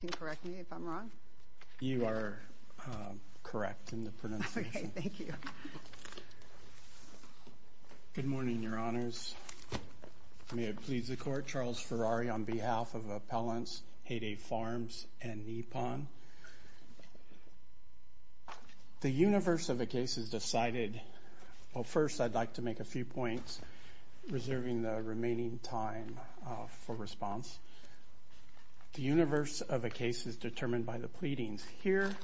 Good morning, Your Honors. May it please the Court, Charles Ferrari on behalf of Appellants Hayday Farms and Nippon. The universe of a case is decided, well first I'd like to make a few points, reserving the remaining time for response. The universe of a case is determined by the pleadings. Here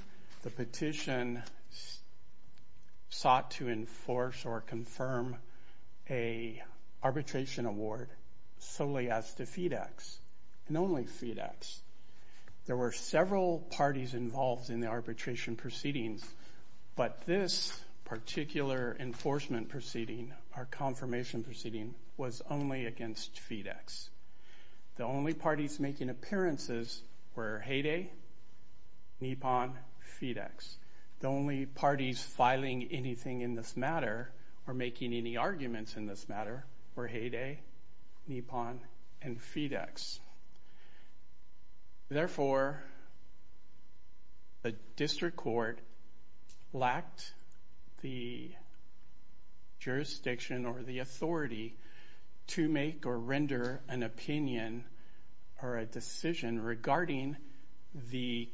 the petition sought to enforce or confirm a arbitration award solely as to FeeDx and only FeeDx. There were several parties involved in the arbitration proceedings but this particular enforcement proceeding, our confirmation proceeding, was only against FeeDx. The only parties making appearances were Hayday, Nippon, FeeDx. The only parties filing anything in this matter or making any arguments in this matter were Hayday, Nippon, and FeeDx. Therefore, the District Court lacked the jurisdiction or the authority to make or render an opinion or a decision regarding the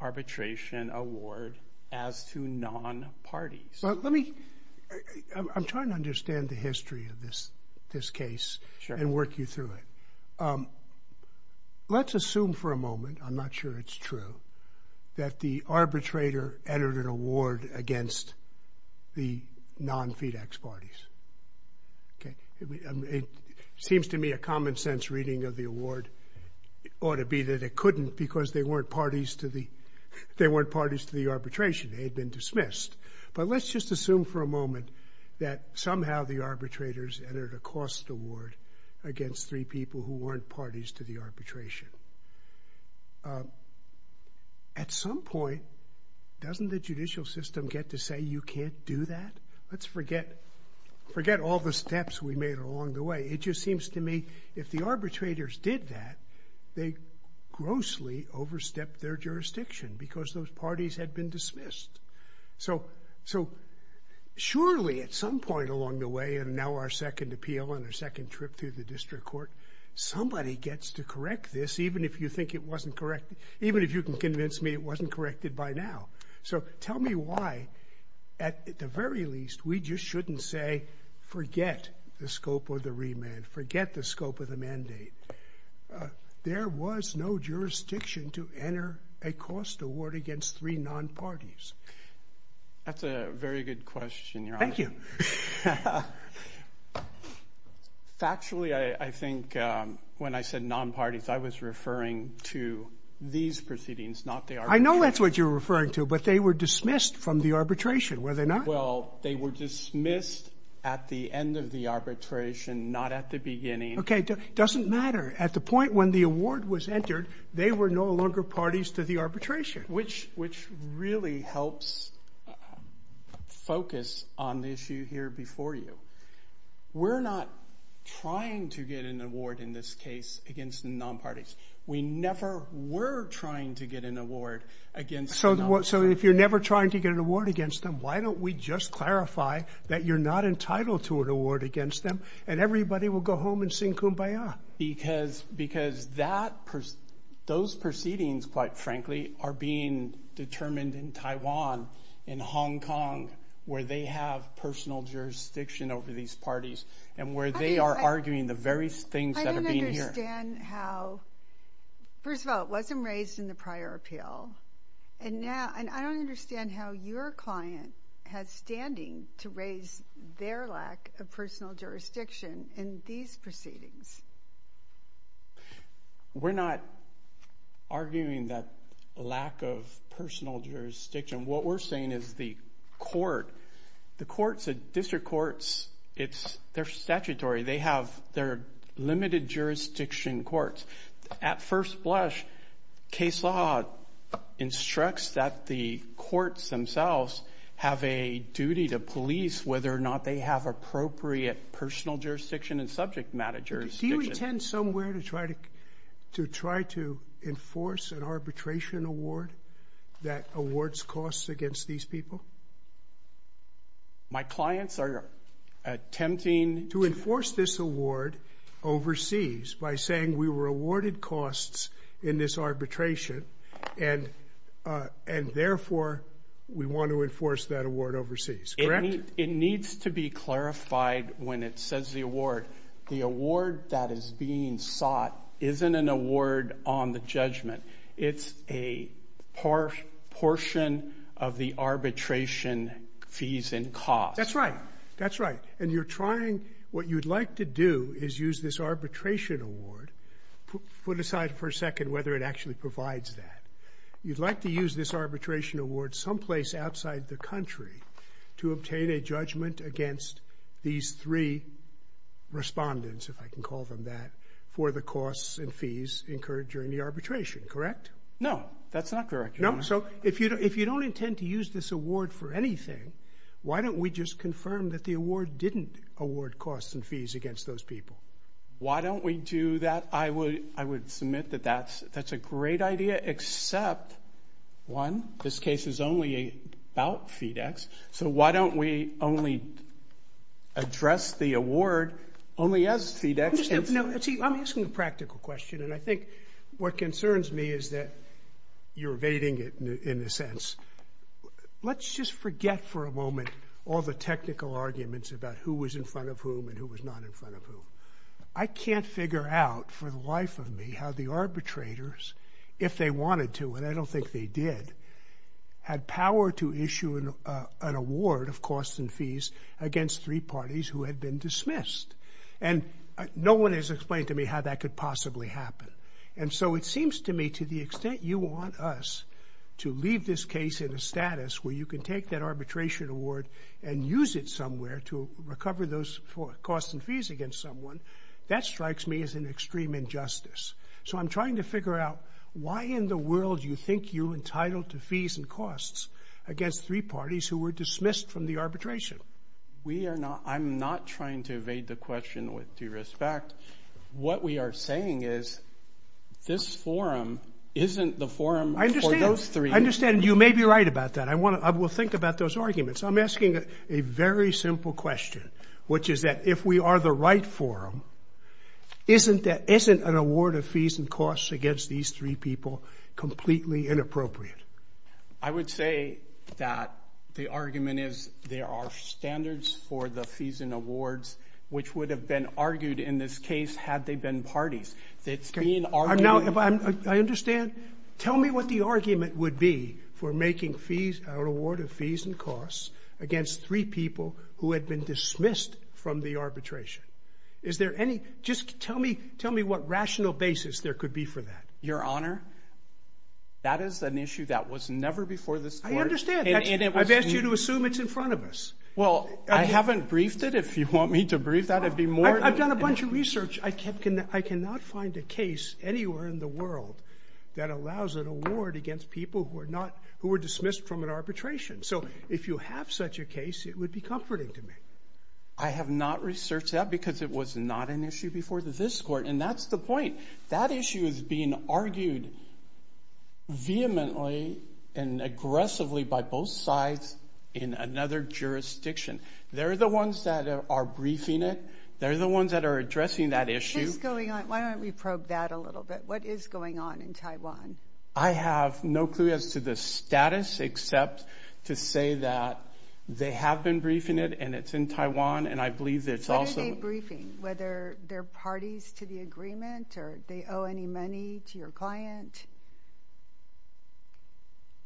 arbitration award as to non-parties. Let me, I'm trying to understand the history of this case and work you through it. Let's assume for a moment, I'm not sure it's true, that the arbitrator entered an award against the non-FeeDx parties. Okay, it seems to me a common-sense reading of the award ought to be that it couldn't because they weren't parties to the, they weren't parties to the arbitration, they had been dismissed. But let's just assume for a moment that somehow the arbitrators entered a cost award against three people who weren't parties to the arbitration. At some point, doesn't the judicial system get to say you can't do that? Let's forget, forget all the steps we made along the way. It just seems to me if the arbitrators did that, they grossly overstepped their jurisdiction because those parties had been dismissed. So, so surely at some point along the way and now our second appeal and our second trip through the district court, somebody gets to correct this even if you think it wasn't correct, even if you can convince me it wasn't corrected by now. So tell me why, at the very least, we just shouldn't say forget the scope of the remand, forget the scope of the mandate. There was no jurisdiction to enter a cost award against three non-parties. That's a very good question, Your Honor. Thank you. Factually, I think when I said non-parties, I was referring to these proceedings, not the arbitration. I know that's what you're referring to, but they were dismissed from the arbitration, were they not? Well, they were dismissed at the end of the arbitration, not at the beginning. Okay, doesn't matter. At the point when the award was entered, they were no longer parties to the arbitration. Which, really helps focus on the issue here before you. We're not trying to get an award in this case against the non-parties. We never were trying to get an award against the non-parties. So if you're never trying to get an award against them, why don't we just clarify that you're not entitled to an award against them and everybody will go home and sing Kumbaya? Because those proceedings, quite frankly, are being determined in Taiwan, in Hong Kong, where they have personal jurisdiction over these parties, and where they are arguing the very things that are being here. I don't understand how, first of all, it wasn't raised in the prior appeal, and now, and I don't understand how your client has standing to raise their lack of personal jurisdiction in these proceedings. We're not arguing that lack of personal jurisdiction. What we're saying is the court, the courts, the district courts, it's, they're statutory. They have, they're limited jurisdiction courts. At first blush, case law instructs that the courts themselves have a duty to police whether or not they have appropriate personal jurisdiction and subject matter jurisdiction. Do you intend somewhere to try to, to try to enforce an arbitration award that awards costs against these people? My clients are attempting to enforce this award overseas by saying we were awarded costs in this arbitration, and, and therefore we want to enforce that award overseas. Correct? It needs to be clarified when it says the award. The award that is being sought isn't an award on the judgment. It's a portion of the arbitration fees and costs. That's right. That's right. And you're trying, what you'd like to do is use this arbitration award, put aside for a second whether it actually provides that. You'd like to use this arbitration award someplace outside the country to obtain a judgment against these three respondents, if I can call them that, for the costs and fees incurred during the arbitration, correct? No, that's not correct. No? So if you don't, if you don't intend to use this award for anything, why don't we just confirm that the award didn't award costs and fees against those people? Why don't we do that? I would, I would submit that that's, that's a great idea except one, this case is only about FedEx, so why don't we only address the award only as FedEx? I'm asking a practical question, and I think what concerns me is that you're evading it in a sense. Let's just forget for a moment all the technical arguments about who was in front of whom and who was not in front of whom. I can't figure out for the life of me how the arbitrators, if they wanted to, and I don't think they did, had power to issue an award of costs and fees against three parties who had been dismissed, and no one has explained to me how that could possibly happen, and so it seems to me to the extent you want us to leave this case in a status where you can take that arbitration award and use it somewhere to recover those costs and fees against someone, that strikes me as an extreme injustice. So I'm trying to figure out why in the world you think you entitled to fees and costs against three parties who were dismissed from the arbitration. We are not, I'm not trying to evade the question with due respect. What we are saying is this forum isn't the forum for those three. I understand, you may be right about that. I want to, I will think about those arguments. I'm asking a very simple question, which is that if we are the right forum, isn't that, isn't an award of fees and costs against these three people completely inappropriate? I would say that the argument is there are standards for the fees and awards which would have been argued in this case had they been parties. It's being argued... Now, I understand. Tell me what the argument would be for making fees, an award of fees and costs against three people who had been dismissed from the arbitration. Is there any, just tell me, tell me what rational basis there could be for that. Your Honor, that is an issue that was never before this court. I understand. I've asked you to assume it's in front of us. Well, I haven't briefed it. If you want me to brief that, it'd be more... I've done a bunch of research. I cannot find a case anywhere in the world that allows an award against people who are not, who were dismissed from an arbitration. So if you have such a case, it would be comforting to me. I have not researched that because it was not an issue before this court. And that's the point. That issue is being argued vehemently and aggressively by both sides in another jurisdiction. They're the ones that are briefing it. They're the ones that are addressing that issue. What's going on? Why don't we probe that a little bit? What is going on in Taiwan? I have no clue as to the status except to say that they have been briefing it and it's in Taiwan. And I believe that it's also... What are they briefing? Whether they're parties to the agreement or they owe any money to your client?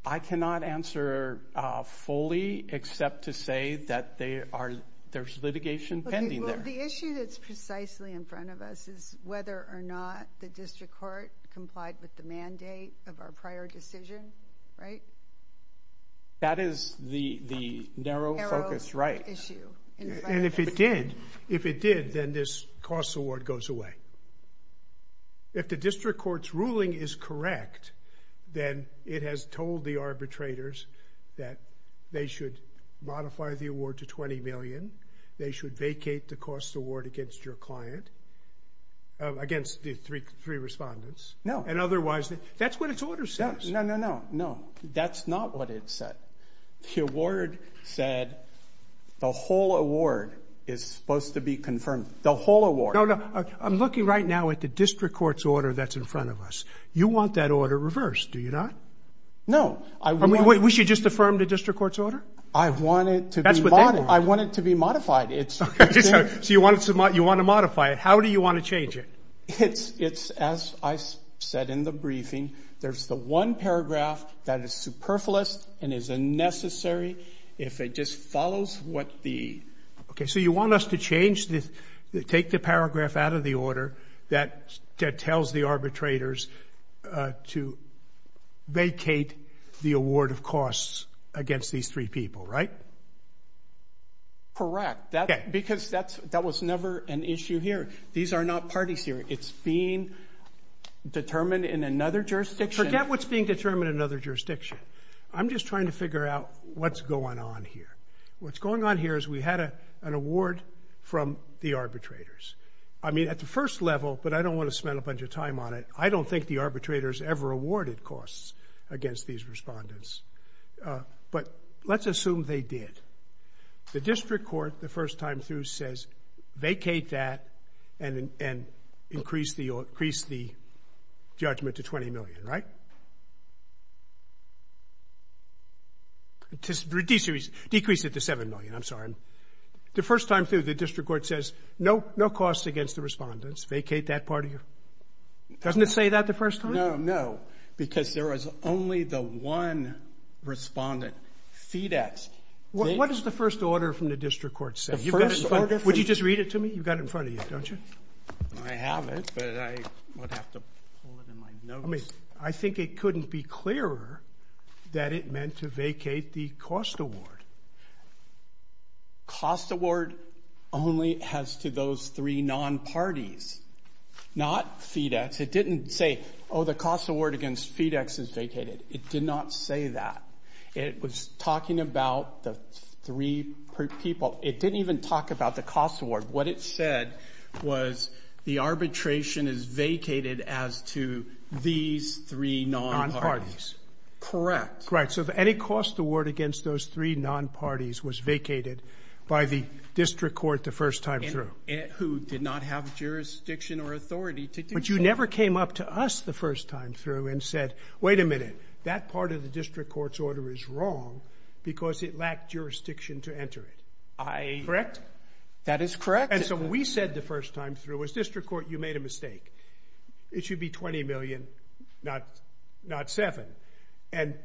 I cannot answer fully except to say that they are, there's litigation pending there. The issue that's precisely in front of us is whether or not the district court complied with the mandate of our prior decision, right? That is the narrow focus, right? Issue. And if it did, if it did, then this costs award goes away. If the district court's ruling is correct, then it has told the arbitrators that they should modify the award to $20 million. They should vacate the cost award against your client, against the three respondents. No. And otherwise, that's what its order says. No, no, no, no. That's not what it said. The award said the whole award is supposed to be confirmed. The whole award. No, no. I'm looking right now at the district court's order that's in front of us. You want that order reversed, do you not? No. I mean, we should just affirm the district court's order? I want it to be modified. So you want to modify it. How do you want to change it? It's, as I said in the briefing, there's the one paragraph that is superfluous and is unnecessary if it just follows what the... Okay. So you want us to change this, take the paragraph out of the order that tells the arbitrators to vacate the award of costs against these three people, right? Because that was never an issue here. These are not parties here. It's being determined in another jurisdiction. Forget what's being determined in another jurisdiction. I'm just trying to figure out what's going on here. What's going on here is we had an award from the arbitrators. I mean, at the first level, but I don't want to spend a bunch of time on it. I don't think the arbitrators ever awarded costs against these respondents, but let's assume they did. The district court, the first time through, says, vacate that and increase the judgment to $20 million, right? Decrease it to $7 million. I'm sorry. The first time through, the district court says, no costs against the respondents. Vacate that part of your... Doesn't it say that the first time? No, no, because there was only the one respondent. What does the first order from the district court say? Would you just read it to me? You've got it in front of you, don't you? I have it, but I would have to pull it in my notes. I think it couldn't be clearer that it meant to vacate the cost award. Cost award only as to those three non-parties, not FedEx. It didn't say, oh, the cost award against FedEx is vacated. It did not say that. It was talking about the three people. It didn't even talk about the cost award. What it said was the arbitration is vacated as to these three non-parties. Correct. Right, so any cost award against those three non-parties was vacated by the district court the first time through. Who did not have jurisdiction or authority to do so. But you never came up to us the first time through and said, wait a minute, that part of the district court's order is wrong because it lacked jurisdiction to enter it. I... That is correct. And so what we said the first time through was, district court, you made a mistake. It should be $20 million, not $7 million.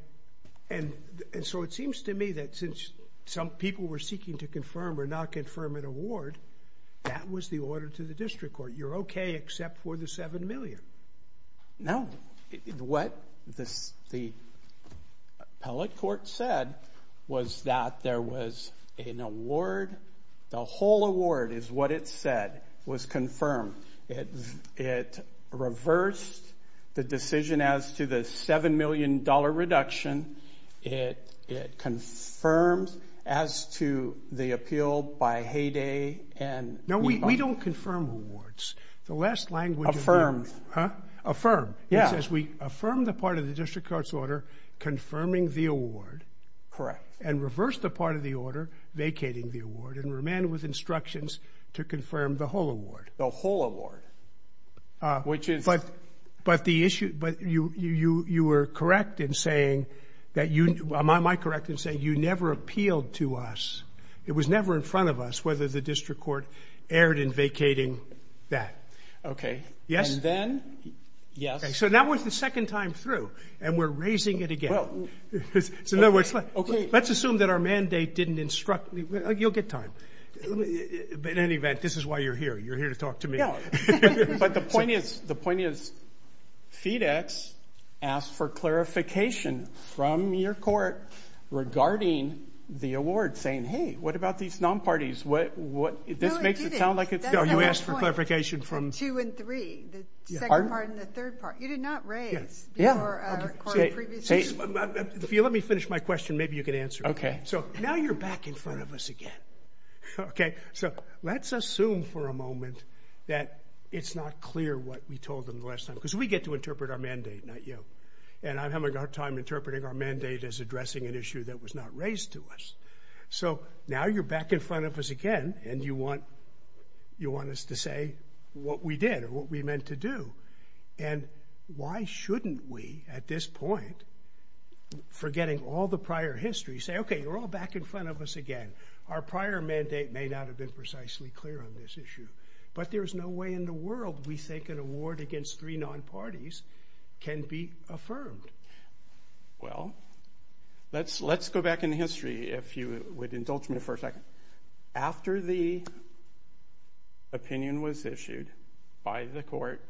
And so it seems to me that since some people were seeking to confirm or not confirm an award, that was the order to the district court. You're okay except for the $7 million. No, what the appellate court said was that there was an award, the whole award is what it said was confirmed. It reversed the decision as to the $7 million reduction. It confirms as to the appeal by Hay Day and... No, we don't confirm awards. The last language... Affirmed. Huh? Affirmed. It says we affirmed the part of the district court's order confirming the award and reversed the part of the order vacating the award and remained with instructions to confirm the whole award. The whole award, which is... But the issue, but you were correct in saying that you, am I correct in saying you never appealed to us, it was never in front of us, whether the district court erred in vacating that. Okay. Yes? And then, yes. So that was the second time through and we're raising it again. Well... So in other words, let's assume that our mandate didn't instruct, you'll get time. But in any event, this is why you're here. You're here to talk to me. No. But the point is, the point is, FedEx asked for clarification from your court regarding the award saying, hey, what about these non-parties? What, what, this makes it sound like it's... No, it didn't. That's the whole point. No, you asked for clarification from... Two and three, the second part and the third part. You did not raise before our court previously... If you let me finish my question, maybe you can answer it. Okay. So now you're back in front of us again. Okay. So let's assume for a moment that it's not clear what we told them the last time, because we get to interpret our mandate, not you. And I'm having a hard time interpreting our mandate as addressing an issue that was not raised to us. So now you're back in front of us again and you want, you want us to say what we did or what we meant to do. And why shouldn't we, at this point, forgetting all the prior history, say, okay, you're all back in front of us again. Our prior mandate may not have been precisely clear on this issue. But there's no way in the world we think an award against three non-parties can be affirmed. Well, let's go back in history, if you would indulge me for a second. After the opinion was issued by the court,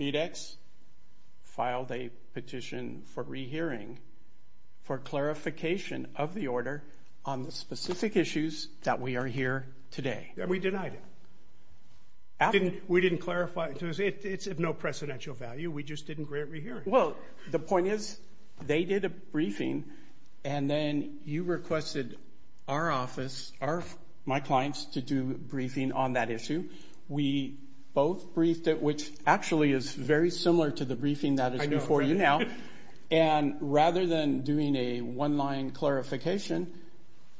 Medex filed a petition for rehearing for clarification of the order on the specific issues that we are here today. We denied it. We didn't clarify it. It's of no precedential value. We just didn't grant rehearing. Well, the point is, they did a briefing and then you requested our office, my clients, to do a briefing on that issue. We both briefed it, which actually is very similar to the briefing that is before you now. And rather than doing a one-line clarification,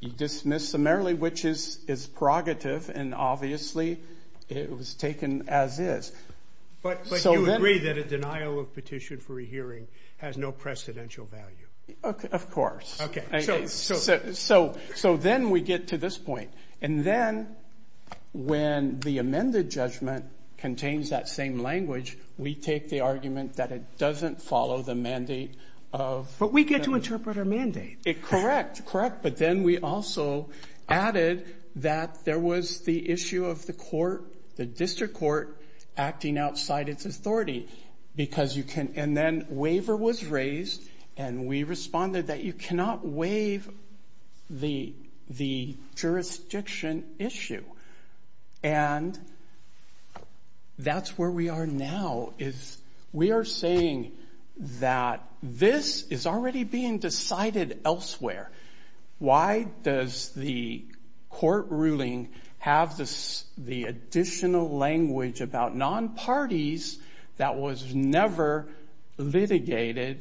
you dismiss summarily, which is prerogative, and obviously, it was taken as is. But you agree that a denial of petition for a hearing has no precedential value. Of course. Okay. So then we get to this point. And then when the amended judgment contains that same language, we take the argument that it doesn't follow the mandate of... But we get to interpret our mandate. Correct. Correct. But then we also added that there was the issue of the court, the district court, acting outside its authority because you can... And then waiver was raised, and we responded that you cannot waive the jurisdiction issue. And that's where we are now, is we are saying that this is already being decided elsewhere. Why does the court ruling have the additional language about non-parties that was never litigated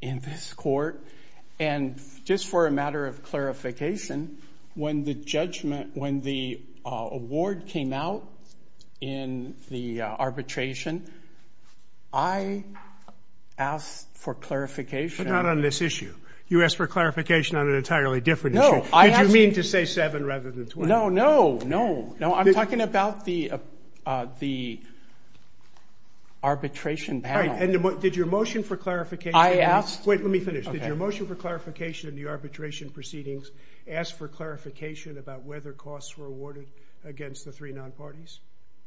in this court? And just for a matter of clarification, when the award came out in the arbitration, I asked for clarification... But not on this issue. You asked for clarification on an entirely different issue. No, I asked... Did you mean to say seven rather than 20? No, no, no, no. I'm talking about the arbitration panel. All right. And did your motion for clarification... I asked... Wait, let me finish. Did your motion for clarification in the arbitration proceedings ask for clarification about whether costs were awarded against the three non-parties?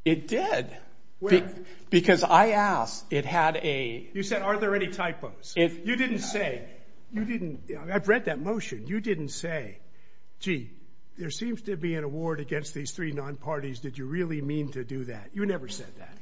It did. Where? Because I asked. It had a... You said, are there any typos? You didn't say... I've read that motion. You didn't say, gee, there seems to be an award against these three non-parties. Did you really mean to do that? You never said that.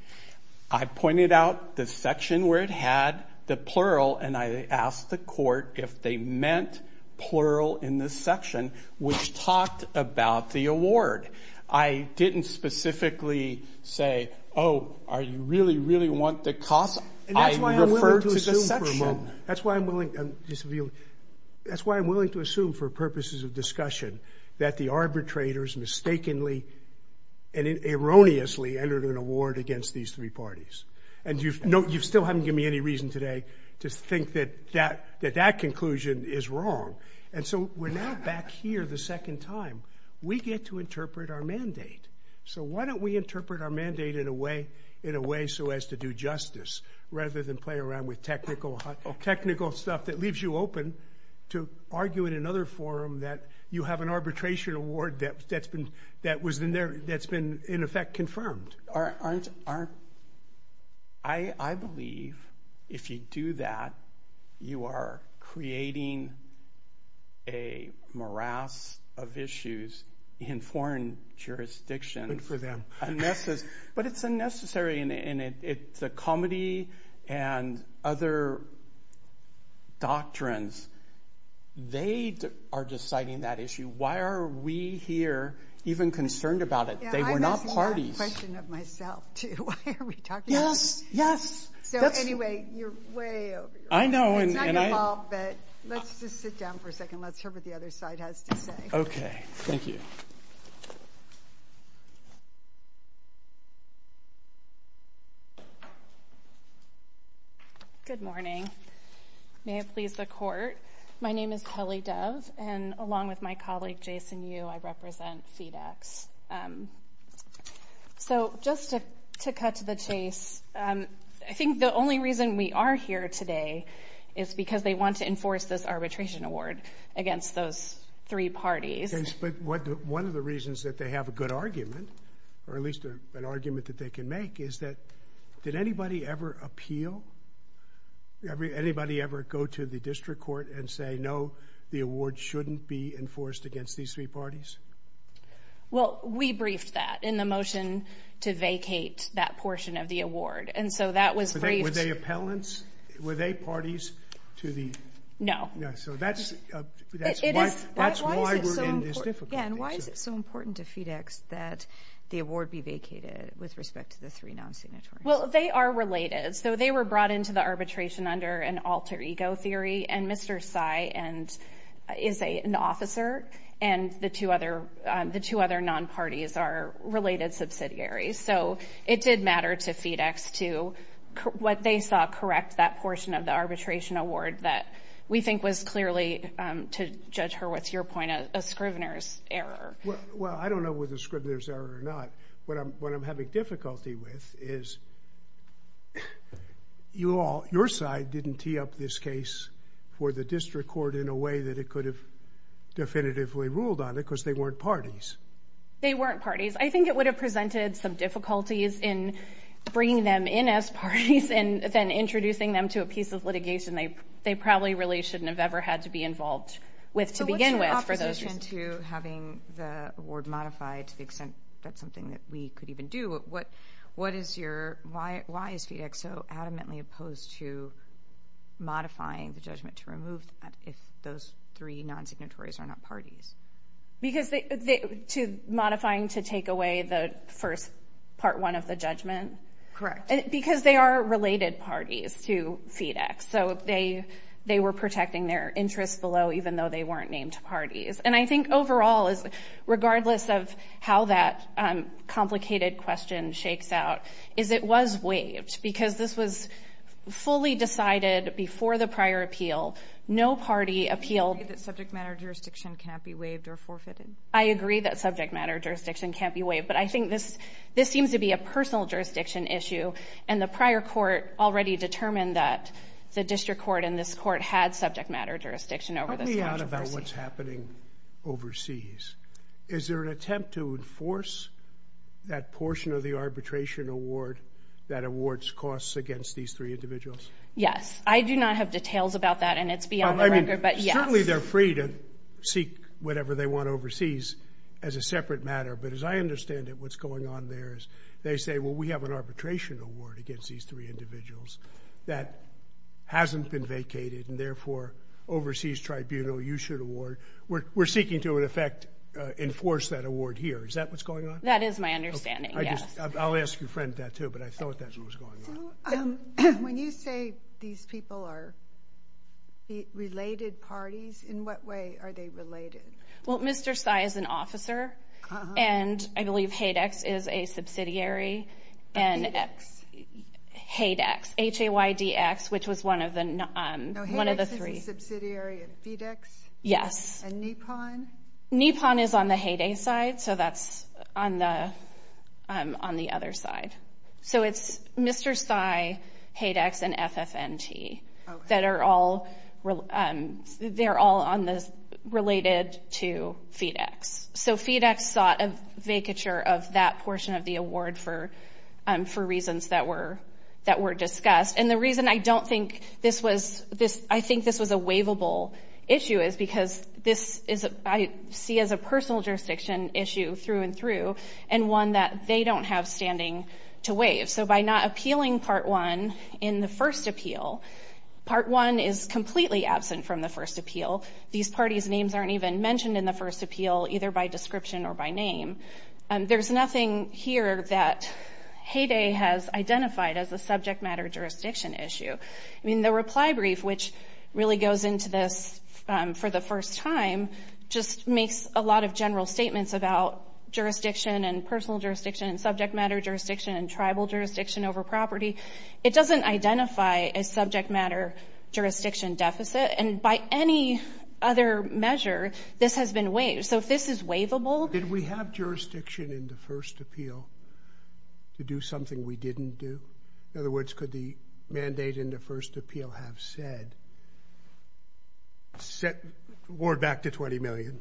I pointed out the section where it had the plural, and I asked the court if they meant plural in this section, which talked about the award. I didn't specifically say, oh, are you really, really want the costs? I referred to the section... That's why I'm willing to assume for purposes of discussion that the arbitrators mistakenly and erroneously entered an award against these three parties. And you still haven't given me any reason today to think that that conclusion is wrong. And so we're now back here the second time. We get to interpret our mandate. So why don't we interpret our mandate in a way so as to do justice, rather than play around with technical stuff that leaves you open to argue in another forum that you have an arbitration award that's been, in effect, confirmed. I believe if you do that, you are creating a morass of issues in foreign jurisdictions. Good for them. But it's unnecessary, and it's a comedy, and other doctrines, they are deciding that issue. Why are we here even concerned about it? They were not parties. That's a question of myself, too. Why are we talking about it? Yes. Yes. So anyway, you're way over your head. I know, and I... It's not your fault, but let's just sit down for a second. Let's hear what the other side has to say. Okay. Thank you. Good morning. May it please the court. My name is Kelly Dove, and along with my colleague, Jason Yu, I represent FedEx. So just to cut to the chase, I think the only reason we are here today is because they want to enforce this arbitration award against those three parties. But one of the reasons that they have a good argument, or at least an argument that they can make, is that did anybody ever appeal? Anybody ever go to the district court and say, no, the award shouldn't be enforced against these three parties? Well, we briefed that in the motion to vacate that portion of the award. And so that was briefed... Were they appellants? Were they parties to the... No. Yeah, so that's why we're in this difficulty. Yeah, and why is it so important to FedEx that the award be vacated with respect to the three non-signatories? Well, they are related. So they were brought into the arbitration under an alter ego theory, and Mr. Tsai is an officer, and the two other non-parties are related subsidiaries. So it did matter to FedEx to what they saw correct that portion of the arbitration award that we think was clearly, to judge her with your point, a scrivener's error. Well, I don't know whether it's a scrivener's error or not. What I'm having difficulty with is you all, your side, didn't tee up this case for the district court in a way that it could have definitively ruled on it because they weren't parties. They weren't parties. I think it would have presented some difficulties in bringing them in as parties and then introducing them to a piece of litigation they probably really shouldn't have ever had to be involved with to begin with for those reasons. So what's your opposition to having the award modified to the extent that's something that we could even do? Why is FedEx so adamantly opposed to modifying the judgment to remove that if those three non-signatories are not parties? Modifying to take away the first part one of the judgment? Correct. Because they are related parties to FedEx, so they were protecting their interests below even though they weren't named parties. And I think overall, regardless of how that complicated question shakes out, is it was waived because this was fully decided before the prior appeal. No party appealed. Do you agree that subject matter jurisdiction can't be waived or forfeited? I agree that subject matter jurisdiction can't be waived, but I think this seems to be a personal jurisdiction issue and the prior court already determined that the district court and this court had subject matter jurisdiction over this case. Let's talk about what's happening overseas. Is there an attempt to enforce that portion of the arbitration award that awards costs against these three individuals? Yes. I do not have details about that and it's beyond the record, but yes. Certainly they're free to seek whatever they want overseas as a separate matter, but as I understand it, what's going on there is they say, well, we have an arbitration award against these three individuals that hasn't been vacated and therefore overseas tribunal you should award. We're seeking to, in effect, enforce that award here. Is that what's going on? That is my understanding, yes. I'll ask your friend that too, but I thought that's what was going on. When you say these people are related parties, in what way are they related? Well, Mr. Sy is an officer and I believe Haydex is a subsidiary. Haydex. Haydex, H-A-Y-D-X, which was one of the three. Haydex is a subsidiary of FedEx? Yes. And NEPON? NEPON is on the Hay Day side, so that's on the other side. So, it's Mr. Sy, Haydex, and FFNT that are all related to FedEx. So, FedEx sought a vacature of that portion of the award for reasons that were discussed. And the reason I don't think this was a waivable issue is because this is, I see as a personal jurisdiction issue through and through, and one that they don't have standing to waive. So, by not appealing Part 1 in the first appeal, Part 1 is completely absent from the first appeal. These parties' names aren't even mentioned in the first appeal, either by description or by name. There's nothing here that Hay Day has identified as a subject matter jurisdiction issue. I mean, the reply brief, which really goes into this for the first time, just makes a lot of general statements about jurisdiction and personal jurisdiction and subject matter jurisdiction and tribal jurisdiction over property. It doesn't identify a subject matter jurisdiction deficit. And by any other measure, this has been waived. So, if this is waivable— Did we have jurisdiction in the first appeal to do something we didn't do? In other words, could the mandate in the first appeal have said, set the award back to $20 million?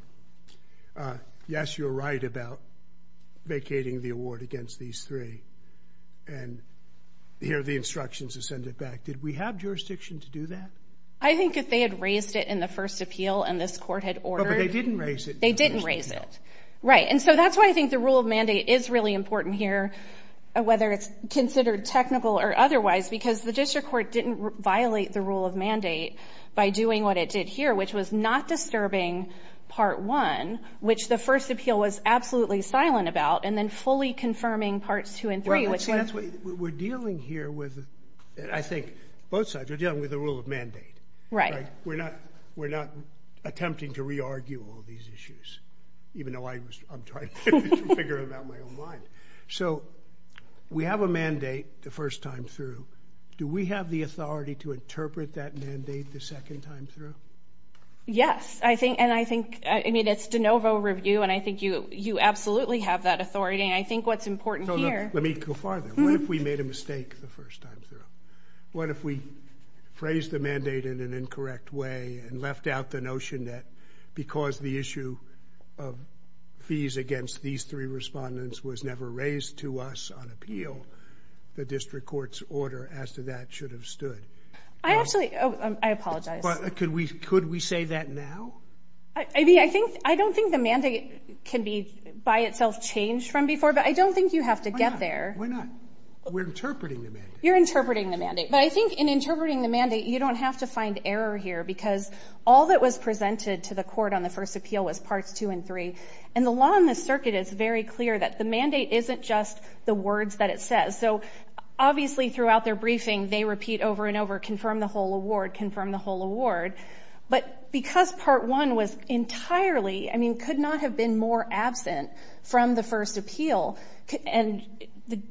Yes, you're right about vacating the award against these three. And here are the instructions to send it back. Did we have jurisdiction to do that? I think if they had raised it in the first appeal and this court had ordered— They didn't raise it in the first appeal. They didn't raise it. Right. And so that's why I think the rule of mandate is really important here, whether it's considered technical or otherwise, because the district court didn't violate the rule of mandate by doing what it did here, which was not disturbing Part 1, which the first appeal was absolutely silent about, and then fully confirming Parts 2 and 3, which was— We're dealing here with, I think, both sides. We're dealing with the rule of mandate. Right. We're not attempting to re-argue all these issues, even though I'm trying to figure them out in my own mind. So we have a mandate the first time through. Do we have the authority to interpret that mandate the second time through? Yes, and I think—I mean, it's de novo review, and I think you absolutely have that authority. And I think what's important here— So let me go farther. What if we made a mistake the first time through? What if we phrased the mandate in an incorrect way and left out the notion that because the issue of fees against these three respondents was never raised to us on appeal, the district court's order as to that should have stood? I actually—I apologize. Could we say that now? I don't think the mandate can be by itself changed from before, but I don't think you have to get there. Why not? We're interpreting the mandate. You're interpreting the mandate. But I think in interpreting the mandate, you don't have to find error here because all that was presented to the court on the first appeal was Parts 2 and 3. And the law in this circuit is very clear that the mandate isn't just the words that it says. So obviously throughout their briefing, they repeat over and over, confirm the whole award, confirm the whole award. But because Part 1 was entirely—I mean, could not have been more absent from the first appeal, and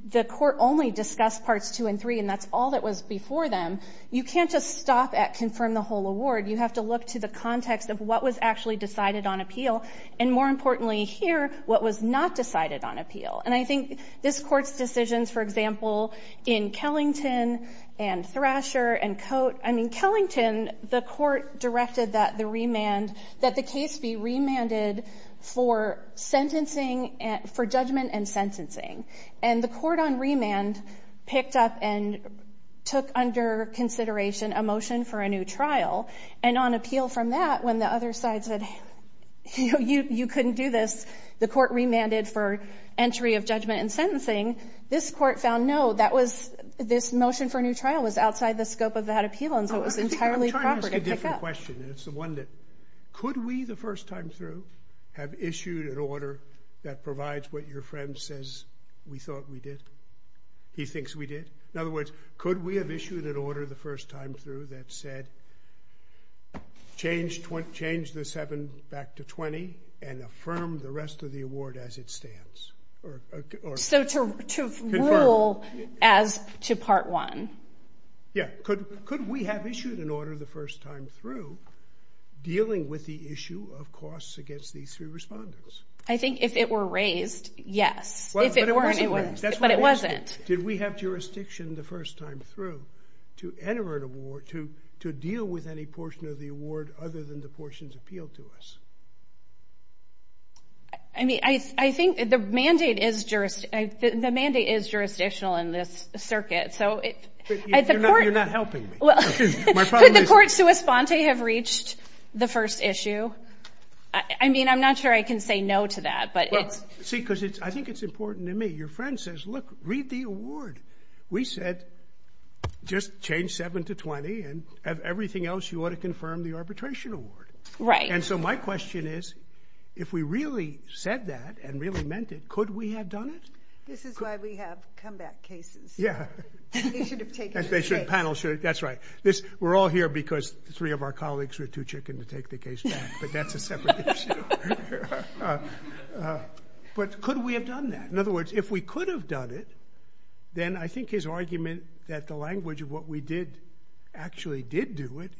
the court only discussed Parts 2 and 3, and that's all that was before them, you can't just stop at confirm the whole award. You have to look to the context of what was actually decided on appeal, and more importantly here, what was not decided on appeal. And I think this court's decisions, for example, in Kellington and Thrasher and Cote— I mean, Kellington, the court directed that the remand— that the case be remanded for sentencing—for judgment and sentencing. And the court on remand picked up and took under consideration a motion for a new trial. And on appeal from that, when the other side said, you know, you couldn't do this, the court remanded for entry of judgment and sentencing. This court found, no, that was—this motion for a new trial was outside the scope of that appeal, and so it was entirely proper to pick up. I have a question, and it's the one that— could we, the first time through, have issued an order that provides what your friend says we thought we did, he thinks we did? In other words, could we have issued an order the first time through that said change the 7 back to 20 and affirm the rest of the award as it stands? So to rule as to Part 1. Yeah, could we have issued an order the first time through dealing with the issue of costs against these three respondents? I think if it were raised, yes. Well, but it wasn't raised. But it wasn't. Did we have jurisdiction the first time through to enter an award, to deal with any portion of the award other than the portions appealed to us? I mean, I think the mandate is jurisdictional in this circuit, so it's important. You're not helping me. Could the court sua sponte have reached the first issue? I mean, I'm not sure I can say no to that, but it's— Well, see, because I think it's important to me. Your friend says, look, read the award. We said just change 7 to 20, and everything else, you ought to confirm the arbitration award. Right. And so my question is, if we really said that and really meant it, could we have done it? This is why we have comeback cases. Yeah. They should have taken the case. That's right. We're all here because three of our colleagues were too chicken to take the case back, but that's a separate issue. But could we have done that? In other words, if we could have done it, then I think his argument that the language of what we did actually did do it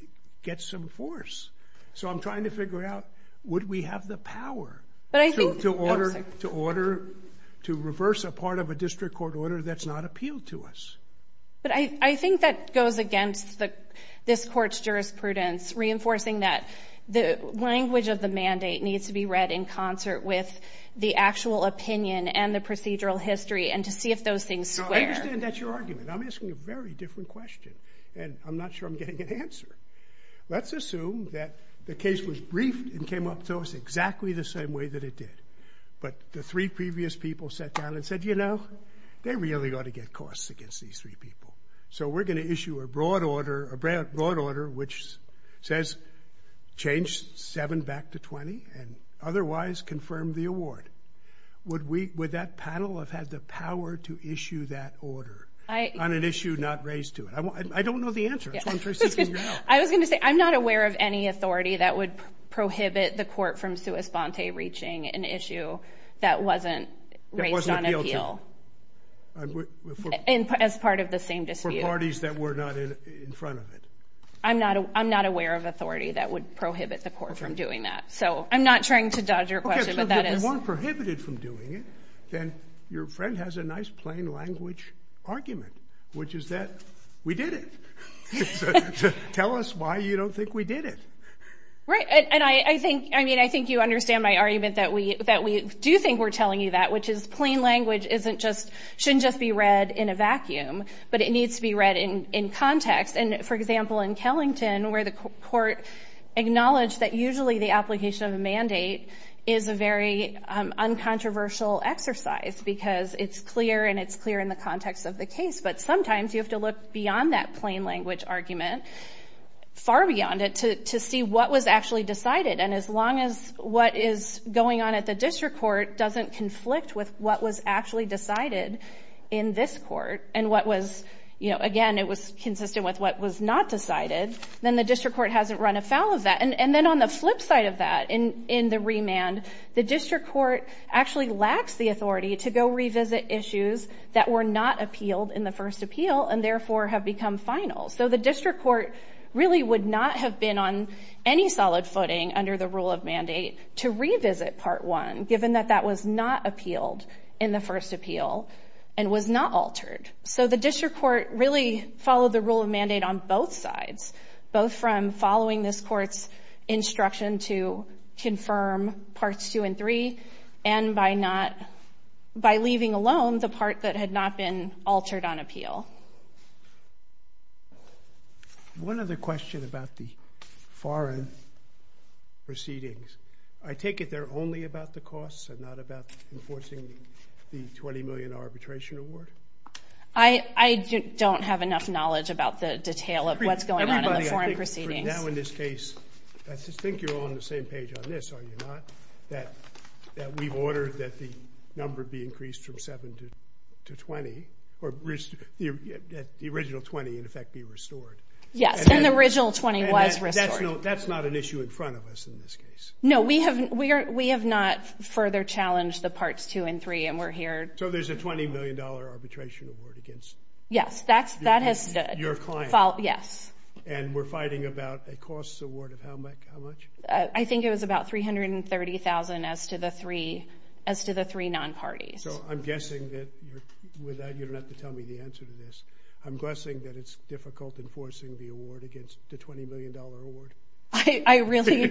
gets some force. So I'm trying to figure out would we have the power to order, to reverse a part of a district court order that's not appealed to us? But I think that goes against this court's jurisprudence, reinforcing that the language of the mandate needs to be read in concert with the actual opinion and the procedural history and to see if those things square. I understand that's your argument. I'm asking a very different question, and I'm not sure I'm getting an answer. Let's assume that the case was briefed and came up to us exactly the same way that it did, but the three previous people sat down and said, you know, they really ought to get costs against these three people. So we're going to issue a broad order which says change 7 back to 20 and otherwise confirm the award. Would that panel have had the power to issue that order on an issue not raised to it? I don't know the answer. I was going to say I'm not aware of any authority that would prohibit the court from sua sponte reaching an issue that wasn't raised on appeal as part of the same dispute. For parties that were not in front of it? I'm not aware of authority that would prohibit the court from doing that. So I'm not trying to dodge your question. Okay, but if it weren't prohibited from doing it, then your friend has a nice plain language argument, which is that we did it. Tell us why you don't think we did it. Right, and I think you understand my argument that we do think we're telling you that, which is plain language shouldn't just be read in a vacuum, but it needs to be read in context. And, for example, in Kellington, where the court acknowledged that usually the application of a mandate is a very uncontroversial exercise because it's clear and it's clear in the context of the case. But sometimes you have to look beyond that plain language argument, far beyond it, to see what was actually decided. And as long as what is going on at the district court doesn't conflict with what was actually decided in this court, and what was, you know, again, it was consistent with what was not decided, then the district court hasn't run afoul of that. And then on the flip side of that, in the remand, the district court actually lacks the authority to go revisit issues that were not appealed in the first appeal and therefore have become final. So the district court really would not have been on any solid footing under the rule of mandate to revisit Part 1, given that that was not appealed in the first appeal and was not altered. So the district court really followed the rule of mandate on both sides, both from following this court's instruction to confirm Parts 2 and 3, and by leaving alone the part that had not been altered on appeal. One other question about the foreign proceedings. I take it they're only about the costs and not about enforcing the $20 million arbitration award? I don't have enough knowledge about the detail of what's going on in the foreign proceedings. Now in this case, I think you're all on the same page on this, are you not? That we've ordered that the number be increased from 7 to 20, or that the original 20 in effect be restored. Yes, and the original 20 was restored. That's not an issue in front of us in this case. No, we have not further challenged the Parts 2 and 3, and we're here. So there's a $20 million arbitration award against your client. Yes, that has stood. Yes. And we're fighting about a costs award of how much? I think it was about $330,000 as to the three non-parties. So I'm guessing that you don't have to tell me the answer to this. I'm guessing that it's difficult enforcing the award against the $20 million award. I really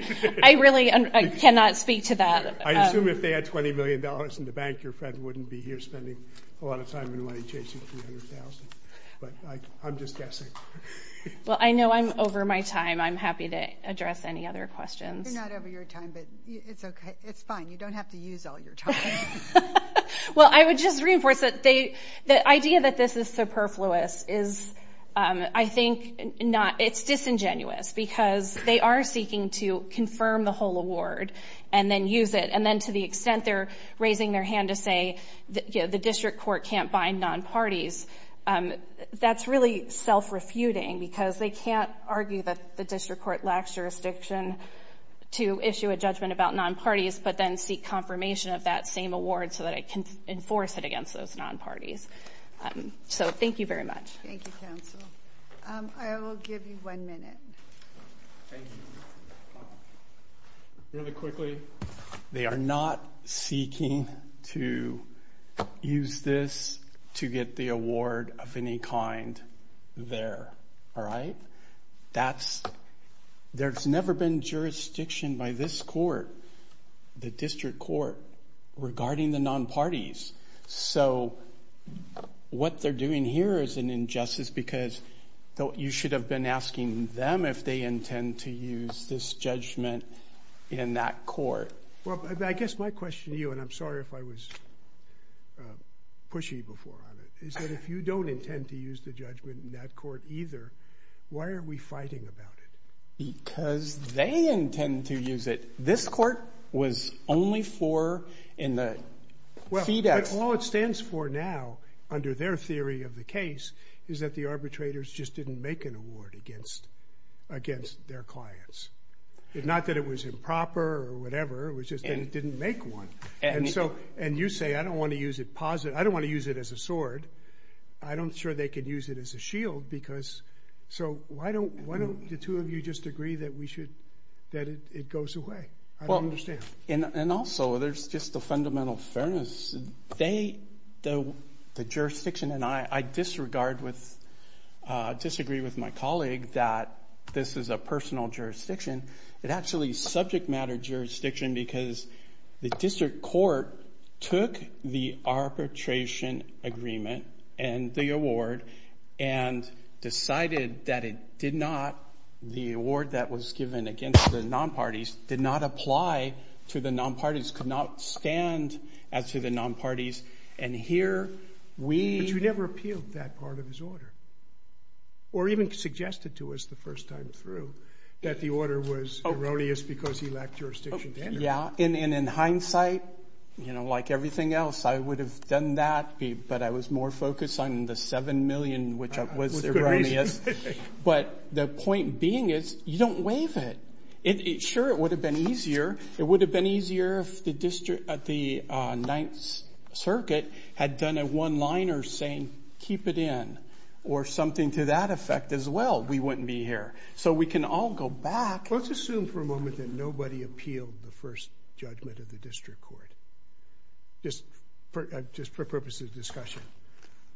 cannot speak to that. I assume if they had $20 million in the bank, your friend wouldn't be here spending a lot of time and money chasing $300,000. But I'm just guessing. Well, I know I'm over my time. I'm happy to address any other questions. You're not over your time, but it's fine. You don't have to use all your time. Well, I would just reinforce that the idea that this is superfluous is, I think, it's disingenuous because they are seeking to confirm the whole award and then use it, and then to the extent they're raising their hand to say the district court can't bind non-parties, that's really self-refuting because they can't argue that the district court lacks jurisdiction to issue a judgment about non-parties but then seek confirmation of that same award so that it can enforce it against those non-parties. So thank you very much. Thank you, counsel. I will give you one minute. Thank you. Really quickly, they are not seeking to use this to get the award of any kind there. All right? There's never been jurisdiction by this court, the district court, regarding the non-parties. So what they're doing here is an injustice because you should have been asking them if they intend to use this judgment in that court. Well, I guess my question to you, and I'm sorry if I was pushy before on it, is that if you don't intend to use the judgment in that court either, why are we fighting about it? Because they intend to use it. This court was only for in the FedEx. But all it stands for now, under their theory of the case, is that the arbitrators just didn't make an award against their clients. Not that it was improper or whatever, it was just that it didn't make one. And you say, I don't want to use it as a sword. I'm not sure they can use it as a shield. So why don't the two of you just agree that it goes away? I don't understand. And also, there's just the fundamental fairness. They, the jurisdiction, and I disregard with, disagree with my colleague that this is a personal jurisdiction. It actually is subject matter jurisdiction because the district court took the arbitration agreement and the award and decided that it did not, the award that was given against the non-parties, did not apply to the non-parties, could not stand as to the non-parties. And here we. But you never appealed that part of his order. Or even suggested to us the first time through that the order was erroneous because he lacked jurisdiction. Yeah. And in hindsight, you know, like everything else, I would have done that, but I was more focused on the $7 million, which was erroneous. But the point being is, you don't waive it. Sure, it would have been easier. It would have been easier if the district at the Ninth Circuit had done a one-liner saying keep it in or something to that effect as well. We wouldn't be here. So we can all go back. Let's assume for a moment that nobody appealed the first judgment of the district court. Just for purposes of discussion.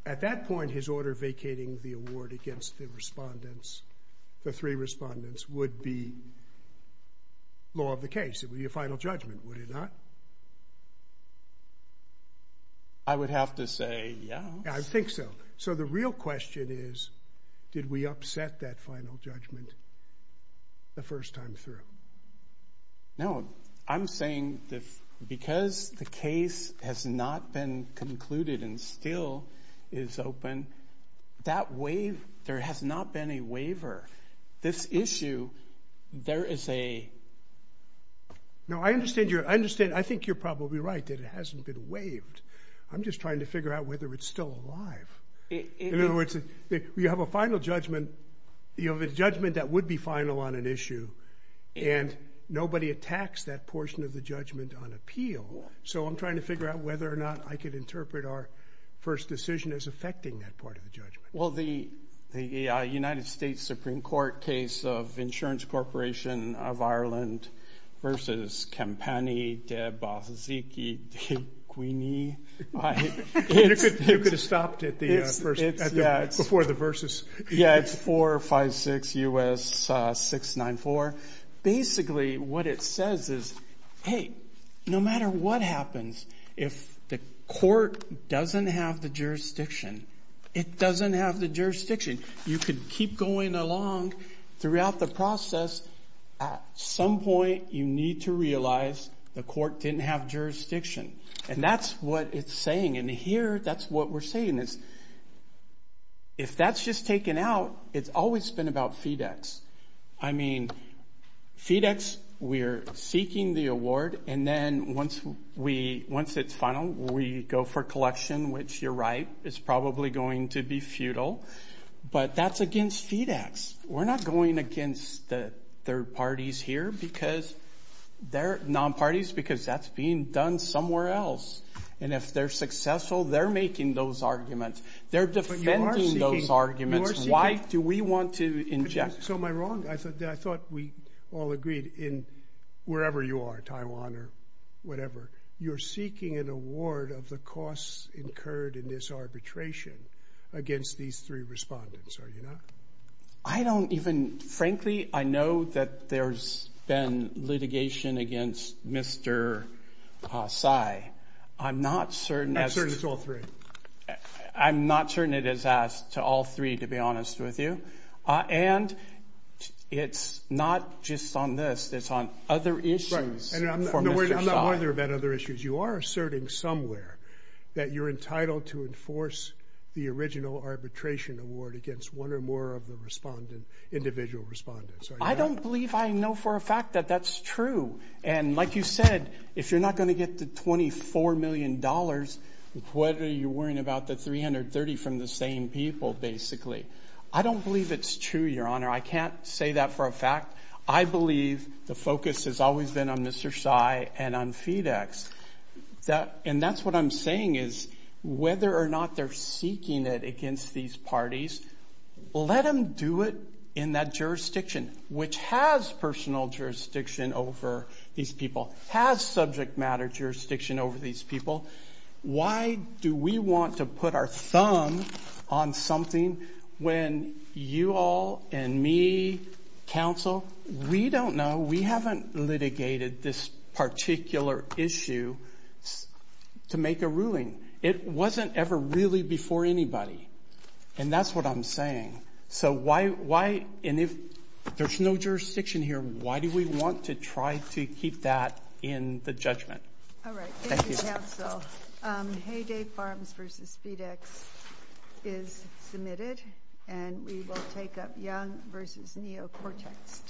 At that point, his order vacating the award against the respondents, the three respondents, would be law of the case. It would be a final judgment, would it not? I would have to say yes. I think so. So the real question is, did we upset that final judgment the first time through? No. I'm saying that because the case has not been concluded and still is open, there has not been a waiver. This issue, there is a – No, I understand. I think you're probably right that it hasn't been waived. I'm just trying to figure out whether it's still alive. In other words, you have a final judgment. You have a judgment that would be final on an issue, and nobody attacks that portion of the judgment on appeal. So I'm trying to figure out whether or not I could interpret our first decision as affecting that part of the judgment. Well, the United States Supreme Court case of Insurance Corporation of Ireland versus Campani de Bozzicchi di Quini. You could have stopped it before the verses. Yeah, it's 456 U.S. 694. Basically, what it says is, hey, no matter what happens, if the court doesn't have the jurisdiction, it doesn't have the jurisdiction. You could keep going along throughout the process. At some point, you need to realize the court didn't have jurisdiction. And that's what it's saying. And here, that's what we're saying is, if that's just taken out, it's always been about FedEx. I mean, FedEx, we're seeking the award, and then once it's final, we go for collection, which you're right, is probably going to be futile. But that's against FedEx. We're not going against the third parties here because they're non-parties because that's being done somewhere else. And if they're successful, they're making those arguments. They're defending those arguments. Why do we want to inject? So am I wrong? I thought we all agreed in wherever you are, Taiwan or whatever, you're seeking an award of the costs incurred in this arbitration against these three respondents, are you not? I don't even, frankly, I know that there's been litigation against Mr. Tsai. I'm not certain it's all three. I'm not certain it is asked to all three, to be honest with you. And it's not just on this. It's on other issues for Mr. Tsai. I'm not worried about other issues. You are asserting somewhere that you're entitled to enforce the original arbitration award against one or more of the individual respondents. I don't believe I know for a fact that that's true. And like you said, if you're not going to get the $24 million, what are you worrying about the 330 from the same people, basically? I don't believe it's true, Your Honor. I can't say that for a fact. I believe the focus has always been on Mr. Tsai and on FedEx. And that's what I'm saying is whether or not they're seeking it against these parties, let them do it in that jurisdiction, which has personal jurisdiction over these people, has subject matter jurisdiction over these people. Why do we want to put our thumb on something when you all and me, counsel, we don't know. We haven't litigated this particular issue to make a ruling. It wasn't ever really before anybody. And that's what I'm saying. So why, and if there's no jurisdiction here, why do we want to try to keep that in the judgment? All right. Thank you, counsel. Hay Day Farms v. FedEx is submitted. And we will take up Young v. Neocortex.